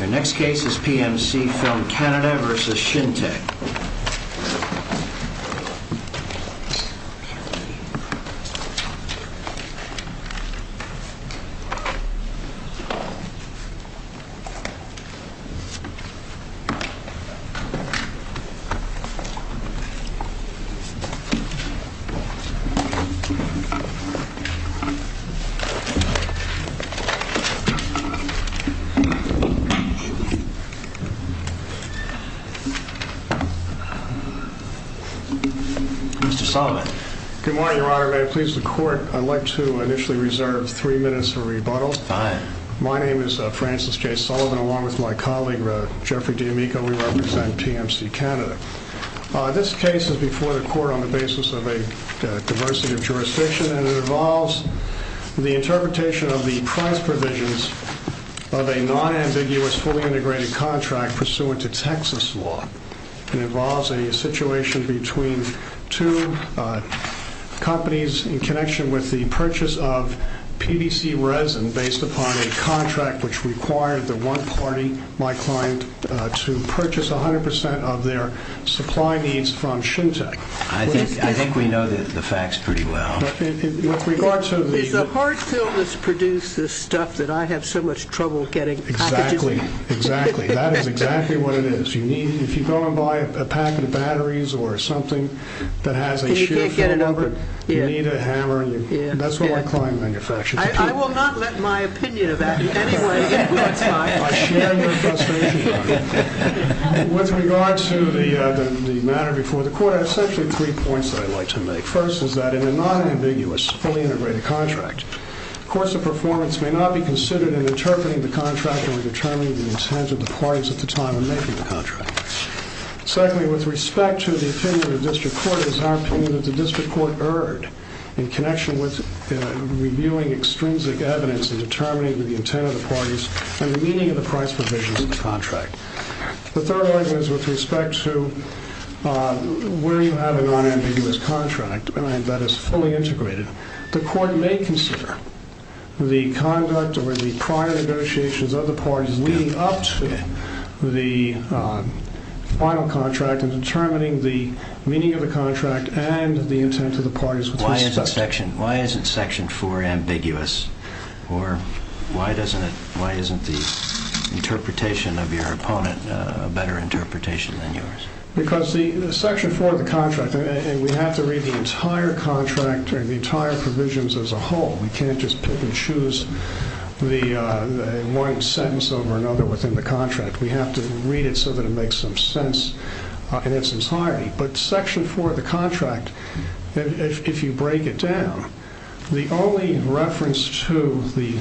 Our next case is PMCFilm Canada v. Shintech. Good morning, Your Honor. May it please the Court, I'd like to initially reserve three minutes of rebuttal. My name is Francis J. Sullivan, along with my colleague Jeffrey D'Amico. We represent TMC Canada. This case is before the Court on the basis of a diversity of jurisdiction, and it involves the interpretation of the price provisions of a non-ambiguous fully integrated contract pursuant to Texas law. It involves a situation between two companies in connection with the purchase of PVC resin based upon a contract which required the one party, my client, to purchase 100% of their supply needs from Shintech. I think we know the facts pretty well. Is the hard fill that's produced this stuff that I have so much trouble getting out to do? Exactly, exactly. That is exactly what it is. If you go and buy a packet of batteries or something that has a sheer fill number, you need a hammer. That's what my client manufactures. I will not let my opinion of that be any way influenced by it. With regard to the matter before the Court, I have essentially three points that I'd like to make. First is that in a non-ambiguous fully integrated contract, the course of performance may not be considered in interpreting the contract or determining the intent of the parties at the time of making the contract. Secondly, with respect to the opinion of the District Court, it is our opinion that the District Court erred in connection with reviewing extrinsic evidence and determining the intent of the parties and the meaning of the price provisions of the contract. The third one is with respect to where you have a non-ambiguous contract that is fully integrated. The Court may consider the conduct or the prior negotiations of the parties leading up to the final contract and determining the meaning of the contract and the intent of the parties. Why isn't Section 4 ambiguous? Or why isn't the interpretation of your opponent a better interpretation than yours? Because Section 4 of the contract, and we have to read the entire contract or the entire provisions as a whole. We can't just pick and choose one sentence over another within the contract. We have to read it so that it makes some sense in its entirety. But Section 4, if you break it down, the only reference to the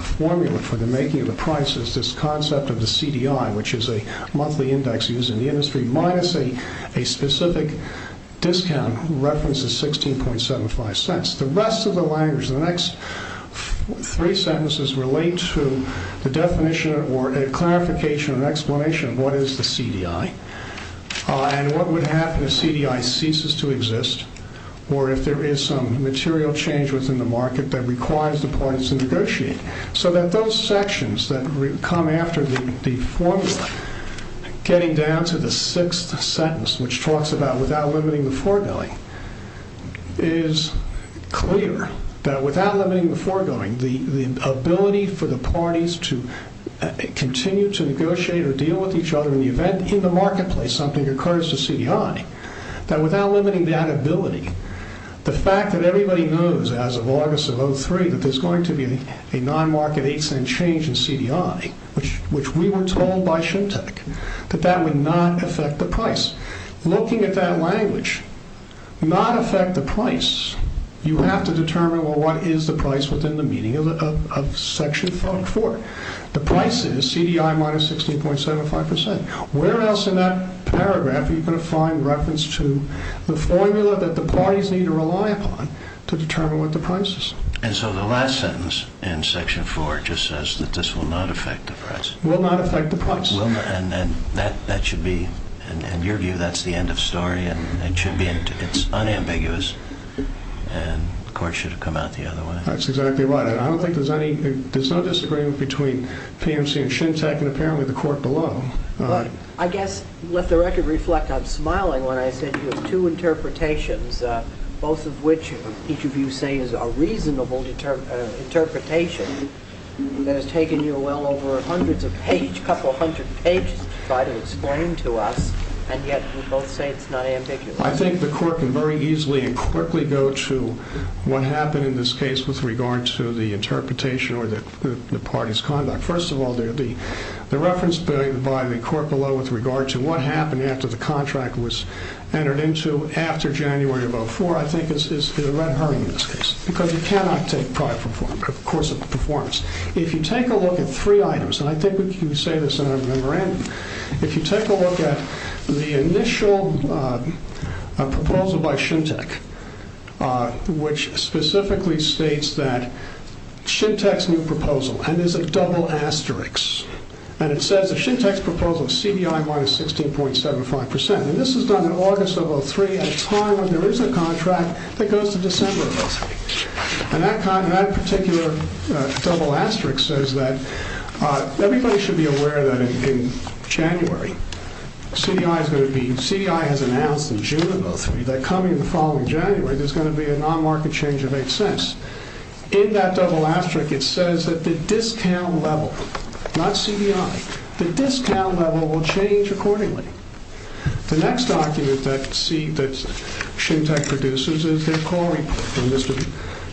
formula for the making of the price is this concept of the CDI, which is a monthly index used in the industry, minus a specific discount reference of 16.75 cents. The rest of the language, the next three sentences relate to the definition or clarification or explanation of what is the CDI and what would happen if CDI ceases to exist or if there is some material change within the market that requires the parties to negotiate. So that those sections that come after the formula, getting down to the sixth sentence, which talks about without limiting the foregoing, is clear that without limiting the foregoing, the ability for the parties to continue to negotiate or deal with each other in the event in the marketplace something occurs to CDI that without limiting that ability, the fact that everybody knows as of August of 03 that there's going to be a non-market 8 cent change in CDI, which we were told by SHMTECH, that that would not affect the price. Looking at that language, not affect the price, you have to determine, well, what is the price within the meaning of Section 4? The price is CDI minus 16.75%. Where else in that paragraph are you going to find reference to the formula that the parties need to rely upon to determine what the price is? And so the last sentence in Section 4 just says that this will not affect the price. Will not affect the price. And that should be, in your view, that's the end of story and it should be, it's unambiguous and the court should have come out the other way. That's exactly right. I don't think there's any, there's no disagreement between PMC and SHMTECH and apparently the court below. But I guess, let the record reflect, I'm smiling when I said you have two interpretations, both of which each of you say is a reasonable interpretation that has taken you well over hundreds of pages, couple hundred pages to try to explain to us and yet you both say it's not ambiguous. I think the court can very easily and quickly go to what happened in this case with regard to the parties' conduct. First of all, the reference by the court below with regard to what happened after the contract was entered into after January of 04, I think is the red herring in this case, because you cannot take pride of course of performance. If you take a look at three items, and I think we can say this in a memorandum, if you take a look at the initial proposal by SHMTECH, which specifically states that SHMTECH's new proposal, and there's a double asterisk, and it says that SHMTECH's proposal is CDI minus 16.75%. And this is done in August of 03 at a time when there is a contract that goes to December of 03. And that particular double asterisk says that everybody should be aware that in January, CDI is going to be, CDI has announced in June of 03, that coming in the following January, there's going to be a non-market change of 8 cents. In that double asterisk, it says that the discount level, not CDI, the discount level will change accordingly. The next document that SHMTECH produces is their call report, and Mr.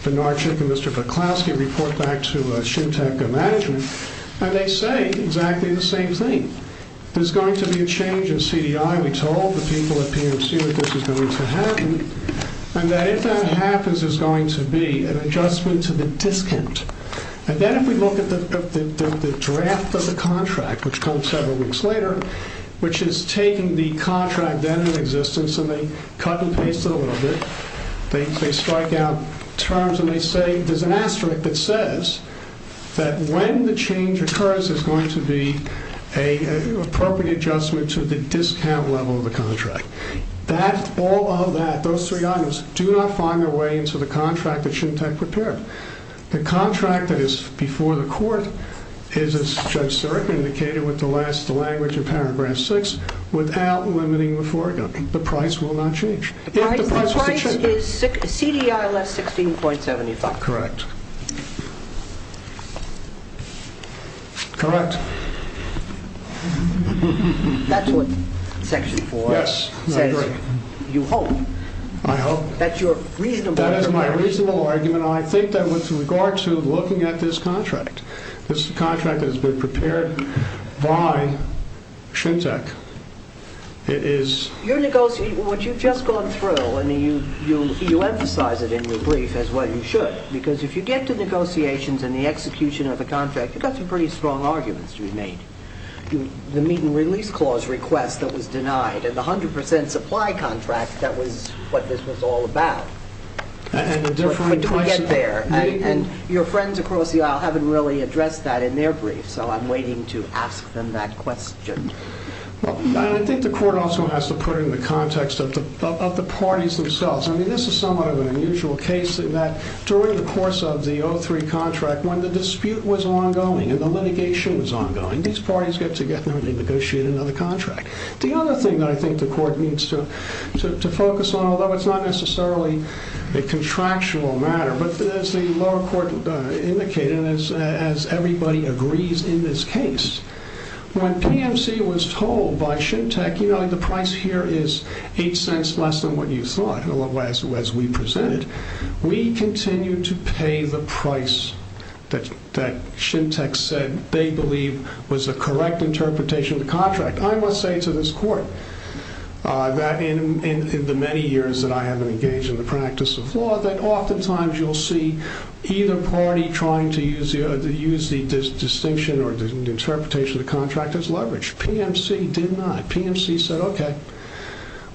Vinarchuk and Mr. Buklowski report back to SHMTECH management, and they say exactly the same thing. There's going to be a change in CDI, we told the people at PMC that this is going to happen, and that if that happens, there's going to be an adjustment to the discount. And then if we look at the draft of the contract, which comes several weeks later, which is taking the contract then in existence, and they cut and paste it a little bit, they strike out terms, and they say there's an asterisk that says that when the change occurs, there's going to be an appropriate adjustment to the discount. All of that, those three items, do not find their way into the contract that SHMTECH prepared. The contract that is before the court is, as Judge Siric indicated with the last language in paragraph 6, without limiting the foregoing. The price will not change. The price is CDI less 16.75. Correct. Correct. That's what section 4 says, you hope. I hope. That's your reasonable That is my reasonable argument, and I think that with regard to looking at this contract, this contract has been prepared by SHMTECH. It is You're negotiating, what you've just gone through, and you emphasize it in your brief as well you should, because if you get to negotiations and the execution of the contract, you've got some pretty strong arguments to be made. The meet and release clause request that was denied, and the 100% supply contract, that was what this was all about. And the different But don't get there. And your friends across the aisle haven't really addressed that in their brief, so I'm waiting to ask them that question. I think the court also has to put it in the context of the parties themselves. I mean, this is somewhat of an unusual case in that during the course of the 03 contract, when the dispute was ongoing, and the litigation was ongoing, these parties get together and they negotiate another contract. The other thing that I think the court needs to focus on, although it's not necessarily a contractual matter, but as the lower court indicated, as everybody agrees in this case, when PMC was told by SHMTECH, you know, the price here is eight cents less than what you thought, as we presented, we continue to pay the price that SHMTECH said they believe was the correct interpretation of the contract. I must say to this court, that in the many years that I haven't engaged in the practice of law, that oftentimes you'll see either party trying to use the distinction or the interpretation of the contract as leverage. PMC did not. PMC said, okay,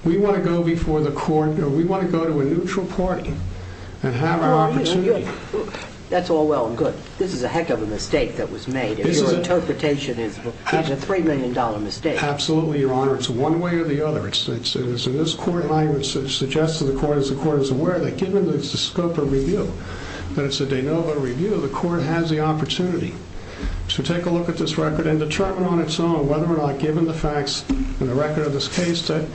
we want to go before the court, we want to go to a neutral party and have an opportunity. That's all well and good. This is a heck of a mistake that was made. Your interpretation is a $3 million mistake. Absolutely, Your Honor. It's one way or the other. It's in this court language that suggests to the court, as the court is aware that given the scope of review, that it's a de novo review, the court has the opportunity to take a look at this record and determine on its own whether or not, given the facts and the record of this case, that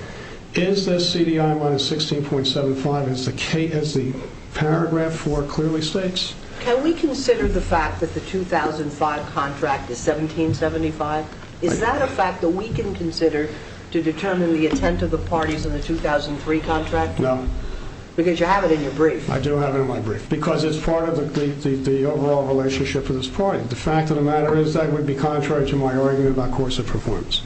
is this CDI minus 16.75, is the paragraph four clearly states? Can we consider the fact that the 2005 contract is 17.75? Is that a fact that we can consider to determine the intent of the parties in the 2003 contract? No. Because you have it in your brief. I do have it in my brief, because it's part of the overall relationship for this party. The fact of the matter is that would be contrary to my argument about course of performance.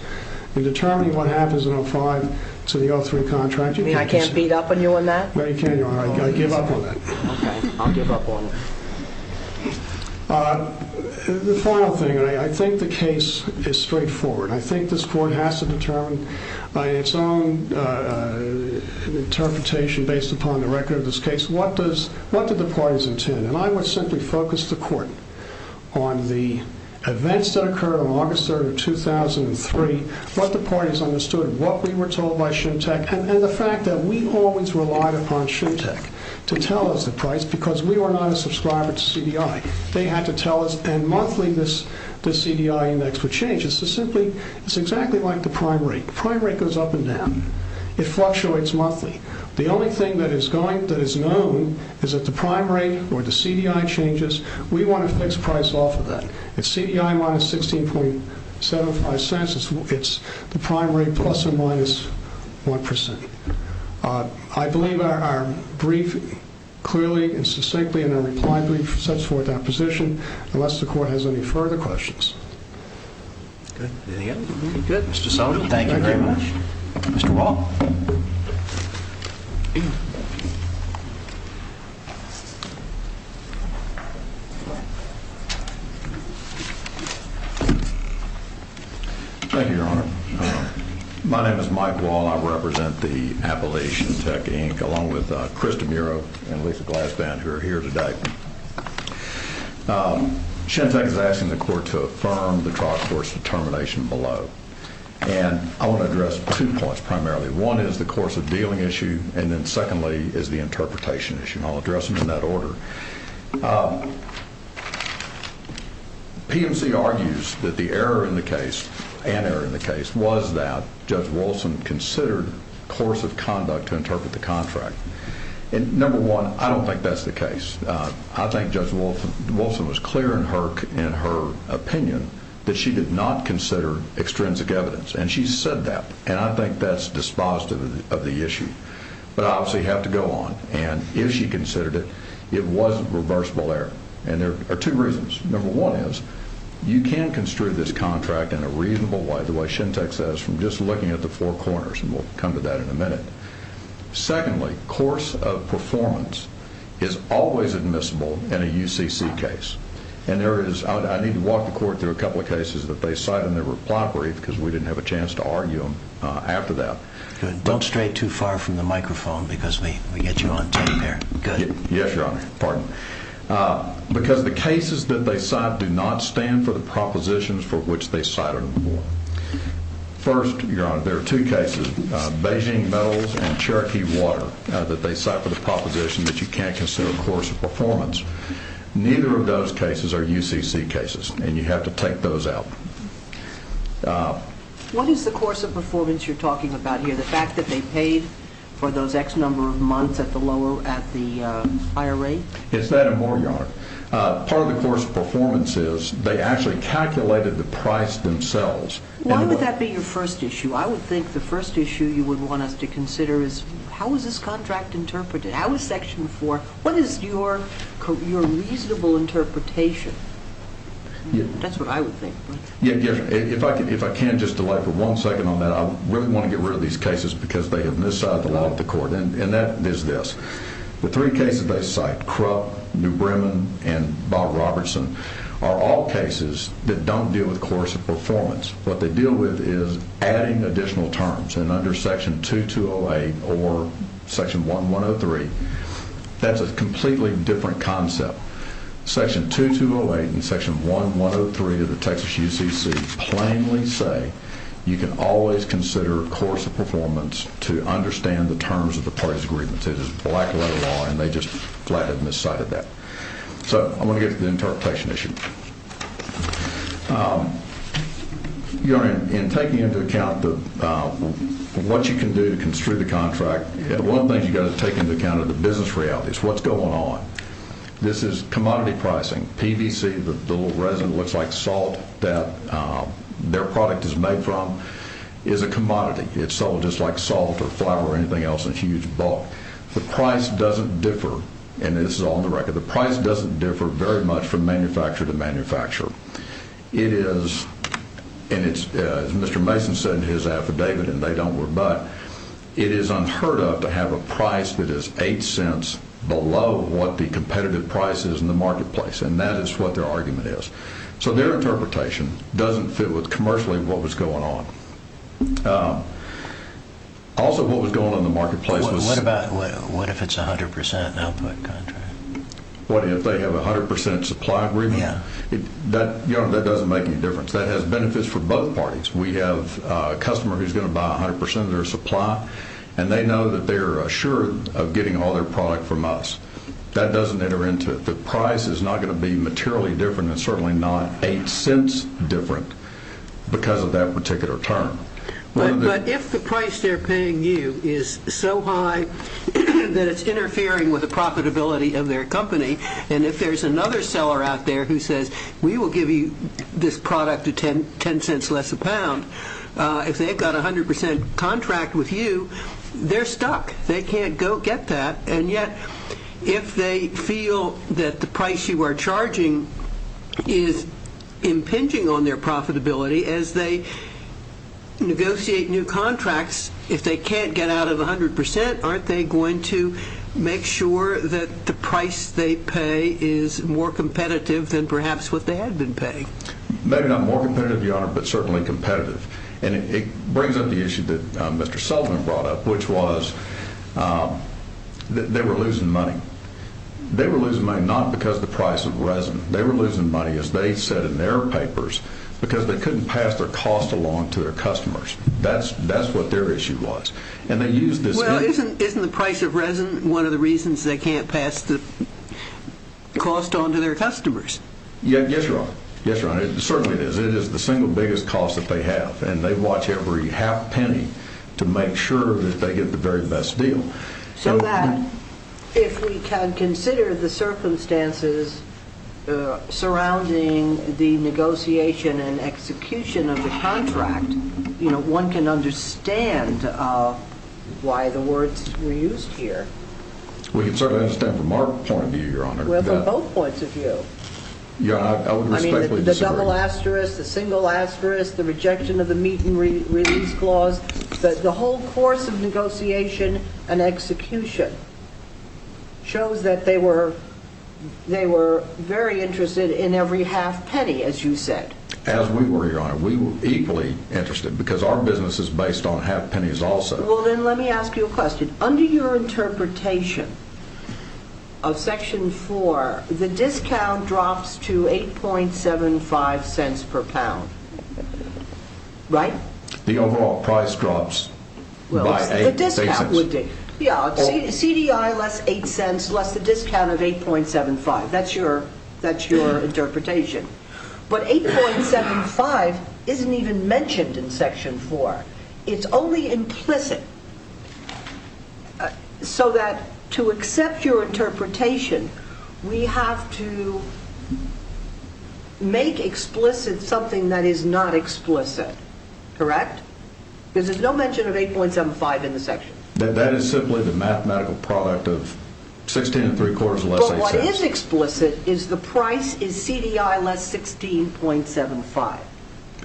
In determining what happens in 05 to the 03 contract, you can't just... You mean I can't beat up on you on that? No, you can't, Your Honor. I give up on that. Okay. I'll give up on it. The final thing, I think the case is straightforward. I think this court has to determine by its own interpretation based upon the record of this case, what did the parties intend? And I would simply focus the court on the events that occurred on August 3rd of 2003, what the parties understood, what we were told by Shuntech, and the fact that we always relied upon Shuntech to tell us the price, because we were not a subscriber to CDI. They had to tell us, and monthly, the CDI index would change. It's exactly like the prime rate. Prime rate goes up and down. It fluctuates monthly. The only thing that is known is that the prime rate or the CDI changes. We want to fix price off of that. It's CDI minus 16.75 cents. It's the prime rate plus or minus 1%. I believe our brief, clearly and succinctly and in a reply brief, sets forth our position, unless the court has any further questions. Good. Anything else? Good. Mr. Sullivan, thank you very much. Mr. Wall. Thank you, Your Honor. My name is Mike Wall. I represent the Appalachian Tech, Inc., along with Krista Muro and Lisa Glasband, who are here today. Shuntech is asking the court to affirm the trial court's determination below. And I want to address two points, primarily. One is the course of dealing issue, and then secondly is the interpretation issue. I'll was that Judge Wilson considered course of conduct to interpret the contract. And number one, I don't think that's the case. I think Judge Wolfson was clear in her opinion that she did not consider extrinsic evidence, and she said that. And I think that's dispositive of the issue. But I obviously have to go on. And if she considered it, it was a reversible error. And there are two reasons. Number one is, you can construe this contract in a reasonable way, the way Shuntech says, from just looking at the four corners. And we'll come to that in a minute. Secondly, course of performance is always admissible in a UCC case. And there is, I need to walk the court through a couple of cases that they cite in their reply brief, because we didn't have a chance to argue them after that. Good. Don't stray too far from the microphone, because we get you on tape here. Good. Yes, Your Honor. Pardon. Because the cases that they cite do not stand for the propositions for which they cited them before. First, Your Honor, there are two cases, Beijing Metals and Cherokee Water, that they cite for the proposition that you can't consider course of performance. Neither of those cases are UCC cases, and you have to take those out. What is the course of performance you're talking about here? The fact that they paid for those X number of months at the lower, at the higher rate? It's that and more, Your Honor. Part of the course of performance is, they actually calculated the price themselves. Why would that be your first issue? I would think the first issue you would want us to consider is, how is this contract interpreted? How is Section 4? What is your reasonable interpretation? That's what I would think. Yes, Your Honor. If I can just delay for one second on that, I really want to get rid of these cases, because they have miscited the law of the court. And that is this. The three cases they cite, Krupp, New Bremen, and Bob Robertson, are all cases that don't deal with course of performance. What they deal with is adding additional terms. And under Section 2208 or Section 1103, that's a completely different concept. Section 2208 and Section 1103 of the Texas UCC plainly say, you can always consider course of performance to understand the terms of the parties' agreements. It is black-letter law, and they just flat-out miscited that. So I'm going to get to the interpretation issue. Your Honor, in taking into account what you can do to construe the contract, one of the things you've got to take into account are the business realities. What's going on? This is commodity pricing. PVC, the little resin that looks like salt that their product is made from, is a commodity. It's sold just like salt or flour or anything else in huge bulk. The price doesn't differ, and this is all on the record, the price doesn't differ very much from manufacturer to manufacturer. It is, and as Mr. Mason said in his affidavit, and they don't worry about it, it is unheard of to have a price that is eight cents below what the competitive price is in the marketplace. And that is what their argument is. So their interpretation doesn't fit with commercially what was going on. Also, what was going on in the marketplace was... What if it's 100% output contract? What if they have a 100% supply agreement? Yeah. Your Honor, that doesn't make any difference. That has benefits for both parties. We have a customer who's going to buy 100% of their supply, and they know that they're assured of getting all their product from us. That doesn't enter into it. The price is not going to be materially different, and certainly not eight cents different because of that particular term. But if the price they're paying you is so high that it's interfering with the profitability of their company, and if there's another seller out there who says, we will give you this product at 10 cents less a pound, if they've got a 100% contract with you, they're stuck. They can't go get that. And yet, if they feel that the price you are charging is impinging on their profitability as they negotiate new contracts, if they can't get out of 100%, aren't they going to make sure that the price they pay is more competitive than perhaps what they had been paying? Maybe not more competitive, Your Honor, but certainly competitive. And it brings up the issue of the price of resin. They were losing money. They were losing money not because of the price of resin. They were losing money, as they said in their papers, because they couldn't pass their cost along to their customers. That's what their issue was. And they used this... Well, isn't the price of resin one of the reasons they can't pass the cost on to their customers? Yes, Your Honor. Yes, Your Honor. It certainly is. It is the single biggest cost that they have. And they watch every half penny to make sure that they get the very best deal. So that, if we can consider the circumstances surrounding the negotiation and execution of the contract, one can understand why the words were used here. We can certainly understand from our point of view, Your Honor. Well, from both points of view. Yeah, I would respectfully disagree. The double asterisk, the single asterisk, the rejection of the meet and release clause, the whole course of negotiation and execution shows that they were very interested in every half penny, as you said. As we were, Your Honor. We were equally interested, because our business is based on half pennies also. Well, then let me ask you a question. Under your interpretation of Section 4, the discount drops to 8.75 cents per pound, right? The overall price drops by 8 cents. Well, the discount would be. Yeah, CDI less 8 cents less the discount of 8.75. That's your interpretation. But 8.75 isn't even mentioned in Section 4. It's only implicit. So that to accept your interpretation, we have to make explicit something that is not explicit, correct? Because there's no mention of 8.75 in the section. That is simply the mathematical product of 16 and three quarters less 8 cents. But what is explicit is the price is CDI less 16.75.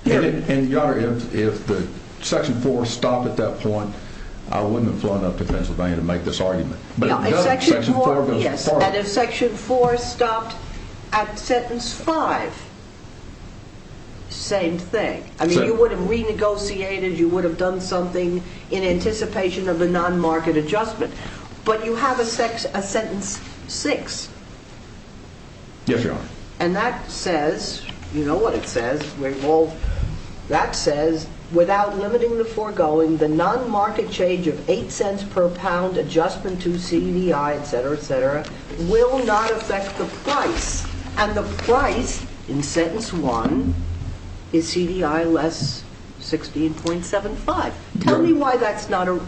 And Your Honor, if the Section 4 stopped at that point, I wouldn't have flown up to Pennsylvania to make this argument. But if Section 4 stopped at sentence five, same thing. I mean, you would have renegotiated. You would have done something in anticipation of a non-market adjustment. But you have a sentence six. Yes, Your Honor. And that says, you know what it says. That says, without limiting the foregoing, the non-market change of 8 cents per pound adjustment to CDI, et cetera, et cetera, will not affect the price. And the price in sentence one is CDI less 16.75. Tell me why that's not the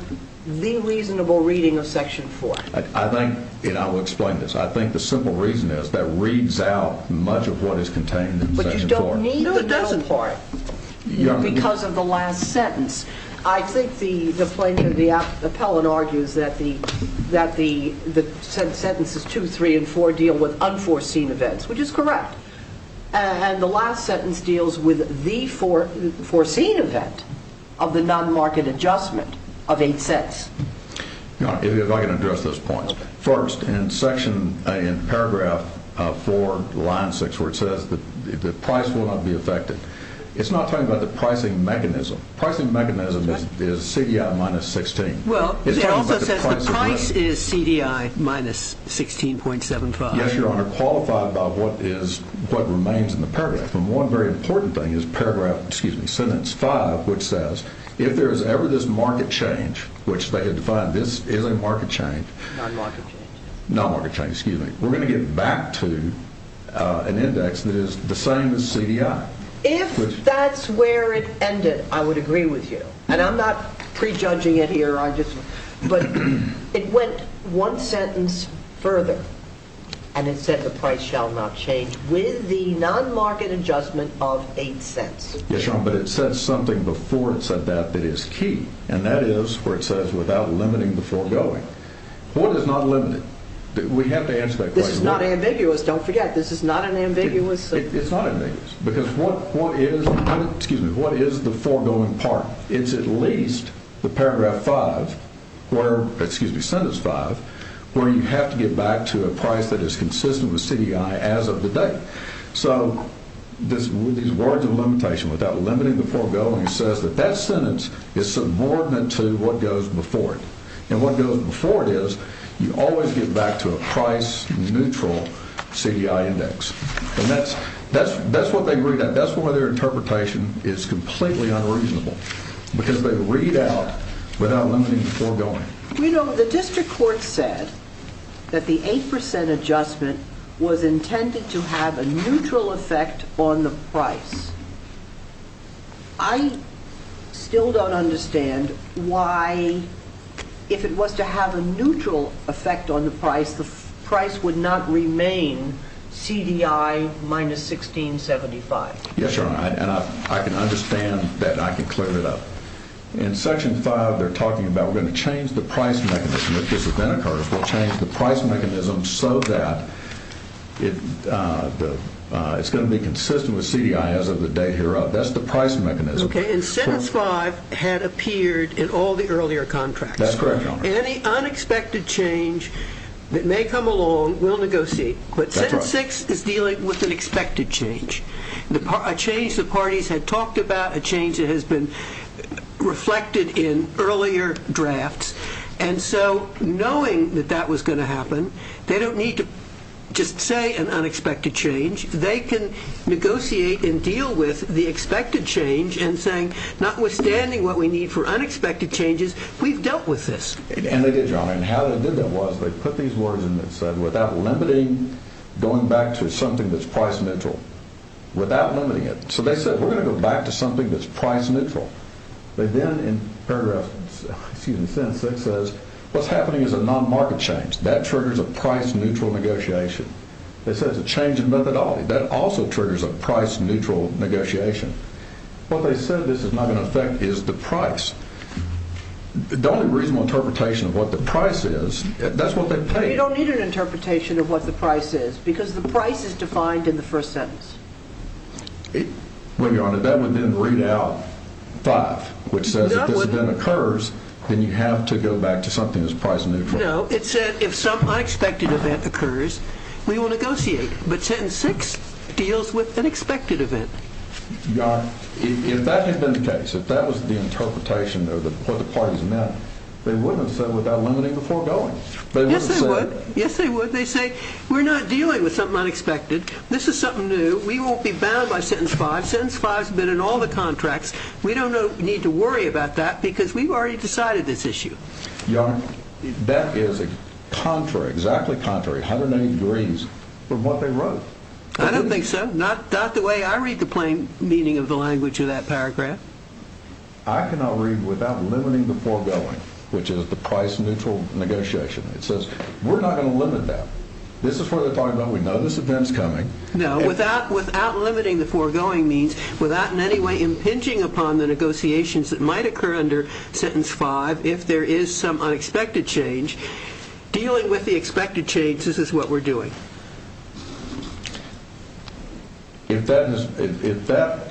reasonable reading of Section 4. I think, and I will explain this. I think the simple reason is that reads out much of what is contained in Section 4. No, it doesn't. Because of the last sentence. I think the plaintiff, the appellant, argues that the sentences two, three, and four deal with unforeseen events, which is correct. And the last sentence deals with the foreseen event of the non-market adjustment of 8 cents. Your Honor, if I can address those points. First, in paragraph four, line six, where it says that the price will not be affected, it's not talking about the pricing mechanism. Pricing mechanism is CDI minus 16. Well, it also says the price is CDI minus 16.75. Yes, Your Honor. Qualified by what is, what remains in the paragraph. And one very important thing is paragraph, excuse me, sentence five, which says, if there is ever this market change, which they had defined, this is a market change. Non-market change. Non-market change, excuse me. We're going to get back to an index that is the same as CDI. If that's where it ended, I would agree with you. And I'm not prejudging it here. I just, but it went one sentence further. And it said the price shall not change with the non-market adjustment of 8 cents. Yes, Your Honor, but it said something before it said that that is key. And that is where it says without limiting the foregoing. What is not limited? We have to answer that question. This is not ambiguous. Don't forget, this is not an ambiguous. It's not ambiguous because what, what is, excuse me, what is the foregoing part? It's at least the paragraph five where, excuse me, sentence five, where you have to get back to a price that is consistent with CDI as of the day. So this, these words of limitation without limiting the foregoing says that that sentence is subordinate to what goes before it. And what goes before it is you always get back to a price neutral CDI index. And that's, that's, that's what they read out. That's why their interpretation is completely unreasonable because they read out without limiting the foregoing. You know, the district court said that the 8% adjustment was intended to have a neutral effect on the price. I still don't understand why if it was to have a neutral effect on the price, the price would not remain CDI minus 1675. Yes, Your Honor. And I can understand that. I can clear it up. In section five, they're talking about we're going to change the price mechanism if this event occurs. We'll change the price mechanism so that it's going to be consistent with CDI as of the day hereof. That's the price mechanism. Okay. And sentence five had appeared in all the earlier contracts. That's correct, Your Honor. Any unexpected change that may come along, we'll negotiate. That's right. But sentence six is dealing with an expected change, a change the parties had talked about, a change that has been reflected in earlier drafts. And so knowing that that was going to happen, they don't need to just say an unexpected change. They can negotiate and deal with the expected change and saying, notwithstanding what we need for unexpected changes, we've dealt with this. And they did, Your Honor. And how they did that was they put these words in that said without limiting, going back to something that's price neutral, without limiting it. So they said we're going to go back to something that's price neutral. They then in paragraph, excuse me, sentence six says what's happening is a non-market change. That triggers a price neutral negotiation. They said it's a change in methodology. That also triggers a price neutral negotiation. What they said this is not going to affect is the price. The only reasonable interpretation of what the price is, that's what they paid. But you don't need an interpretation of what the price is because the price is defined in the first sentence. Well, Your Honor, that would then read out five, which says if this event occurs, then you have to go back to something that's price neutral. No, it said if some unexpected event occurs, we will negotiate. But sentence six deals with an expected event. Your Honor, if that had been the case, if that was the interpretation of what the parties meant, they wouldn't have said without limiting before going. Yes, they would. Yes, they would. They say we're not dealing with something unexpected. This is something new. We won't be bound by sentence five. Sentence five's been in all the contracts. We don't need to worry about that because we've already decided this issue. Your Honor, that is contrary, exactly contrary, 180 degrees from what they wrote. I don't think so. Not the way I read the plain meaning of the language of that paragraph. I cannot read without limiting before going, which is the price neutral negotiation. It says we're not going to limit that. This is what they're talking about. We know this event's coming. No, without limiting the foregoing means, without in any way impinging upon the negotiations that might occur under sentence five if there is some unexpected change, dealing with the expected change, this is what we're doing. If that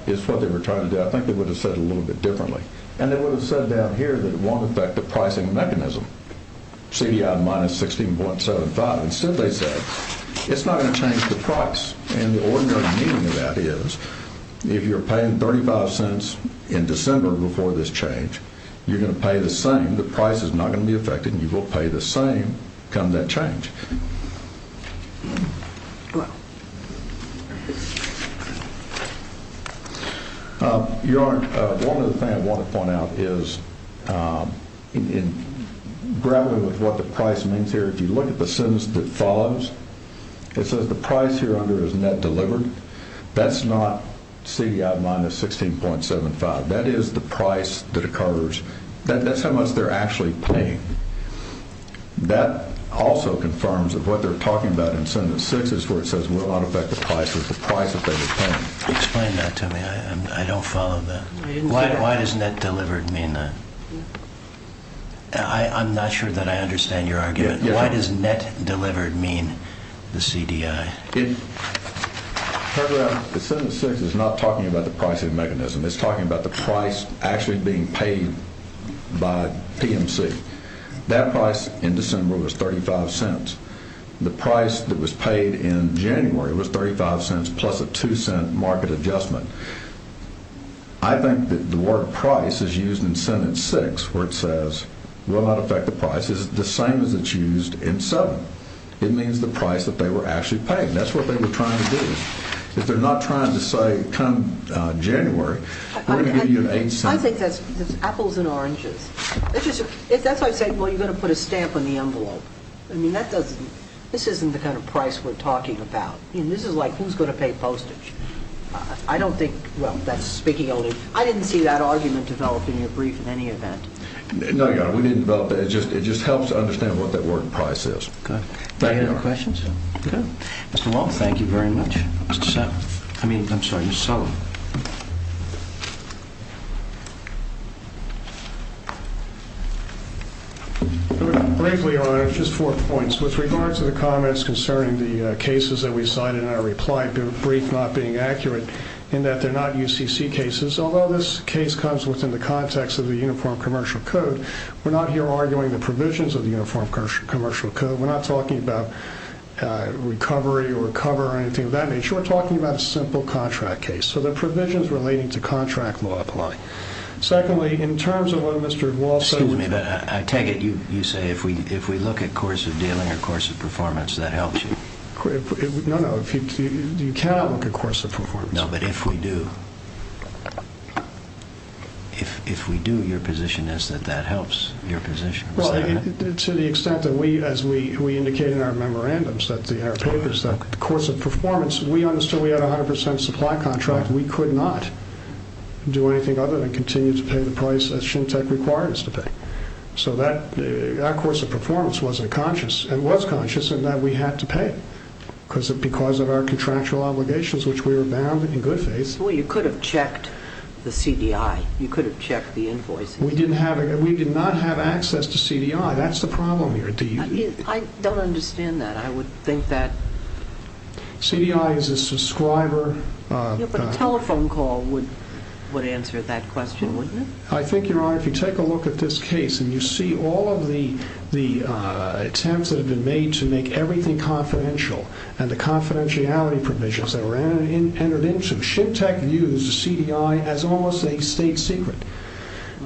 is what they were trying to do, I think they would have said it a little bit differently. And they would have said down here that it won't affect the pricing mechanism, CDI minus 16.75. Instead they said it's not going to change the price. And the ordinary meaning of that is if you're paying 35 cents in December before this change, you're going to pay the same. The price is not going to be affected, and you will pay the same come that change. Your Honor, one other thing I want to point out is in grappling with what the price means here, if you look at the sentence that follows, it says the price here under is net delivered. That's not CDI minus 16.75. That is the price that occurs. That's how much they're actually paying. That also confirms that what they're talking about in sentence six is where it says it will not affect the price, which is the price that they were paying. Explain that to me. I don't follow that. Why does net delivered mean that? I'm not sure that I understand your argument. Why does net delivered mean the CDI? The sentence six is not talking about the pricing mechanism. It's talking about the price actually being paid by PMC. That price in December was 35 cents. The price that was paid in January was 35 cents plus a 2-cent market adjustment. I think that the word price is used in sentence six where it says will not affect the price. It's the same as it's used in seven. It means the price that they were actually paying. That's what they were trying to do. If they're not trying to say come January, we're going to give you an 8-cent. I think that's apples and oranges. That's why I say, well, you're going to put a stamp on the envelope. I mean, this isn't the kind of price we're talking about. This is like who's going to pay postage. I don't think, well, that's speaking only. I didn't see that argument developed in your brief in any event. No, Your Honor, we didn't develop that. It just helps to understand what that word price is. Okay. Any other questions? Okay. Mr. Wall, thank you very much. I mean, I'm sorry, Mr. Sullivan. Briefly, Your Honor, just four points. First, with regard to the comments concerning the cases that we cited in our reply brief not being accurate in that they're not UCC cases, although this case comes within the context of the Uniform Commercial Code, we're not here arguing the provisions of the Uniform Commercial Code. We're not talking about recovery or cover or anything of that nature. We're talking about a simple contract case. So the provisions relating to contract law apply. Secondly, in terms of what Mr. Wall said— No, no. You cannot look at course of performance. No, but if we do, your position is that that helps your position. To the extent that we, as we indicate in our memorandums, in our papers, the course of performance, we understood we had a 100% supply contract. We could not do anything other than continue to pay the price that Shintec required us to pay. So that course of performance wasn't conscious. It was conscious in that we had to pay because of our contractual obligations, which we were bound in good faith. Well, you could have checked the CDI. You could have checked the invoice. We did not have access to CDI. That's the problem here. I don't understand that. I would think that— CDI is a subscriber— Yeah, but a telephone call would answer that question, wouldn't it? I think, Your Honor, if you take a look at this case and you see all of the attempts that have been made to make everything confidential and the confidentiality provisions that were entered into, Shintec views the CDI as almost a state secret.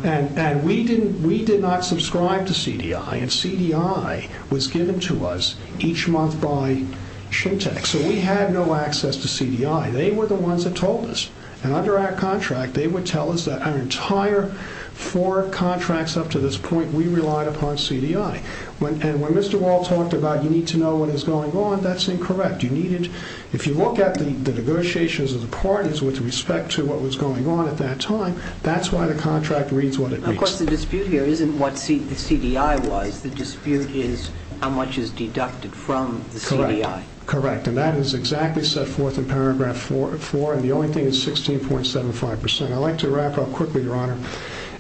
And we did not subscribe to CDI, and CDI was given to us each month by Shintec. So we had no access to CDI. They were the ones that told us. And under our contract, they would tell us that our entire four contracts up to this point, we relied upon CDI. And when Mr. Wall talked about you need to know what is going on, that's incorrect. If you look at the negotiations of the parties with respect to what was going on at that time, that's why the contract reads what it reads. Of course, the dispute here isn't what the CDI was. The dispute is how much is deducted from the CDI. Correct. And that is exactly set forth in paragraph 4. And the only thing is 16.75%. I'd like to wrap up quickly, Your Honor,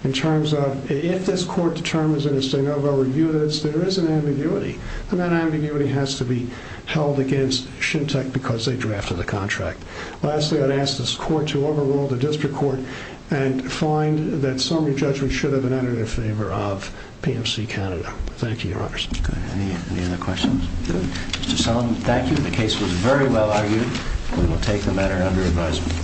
in terms of if this court determines in its de novo review that there is an ambiguity, then that ambiguity has to be held against Shintec because they drafted the contract. Lastly, I'd ask this court to overrule the district court and find that summary judgment should have been entered in favor of PMC Canada. Thank you, Your Honor. Good. Any other questions? Good. Mr. Sullivan, thank you. The case was very well argued. We will take the matter under advisement.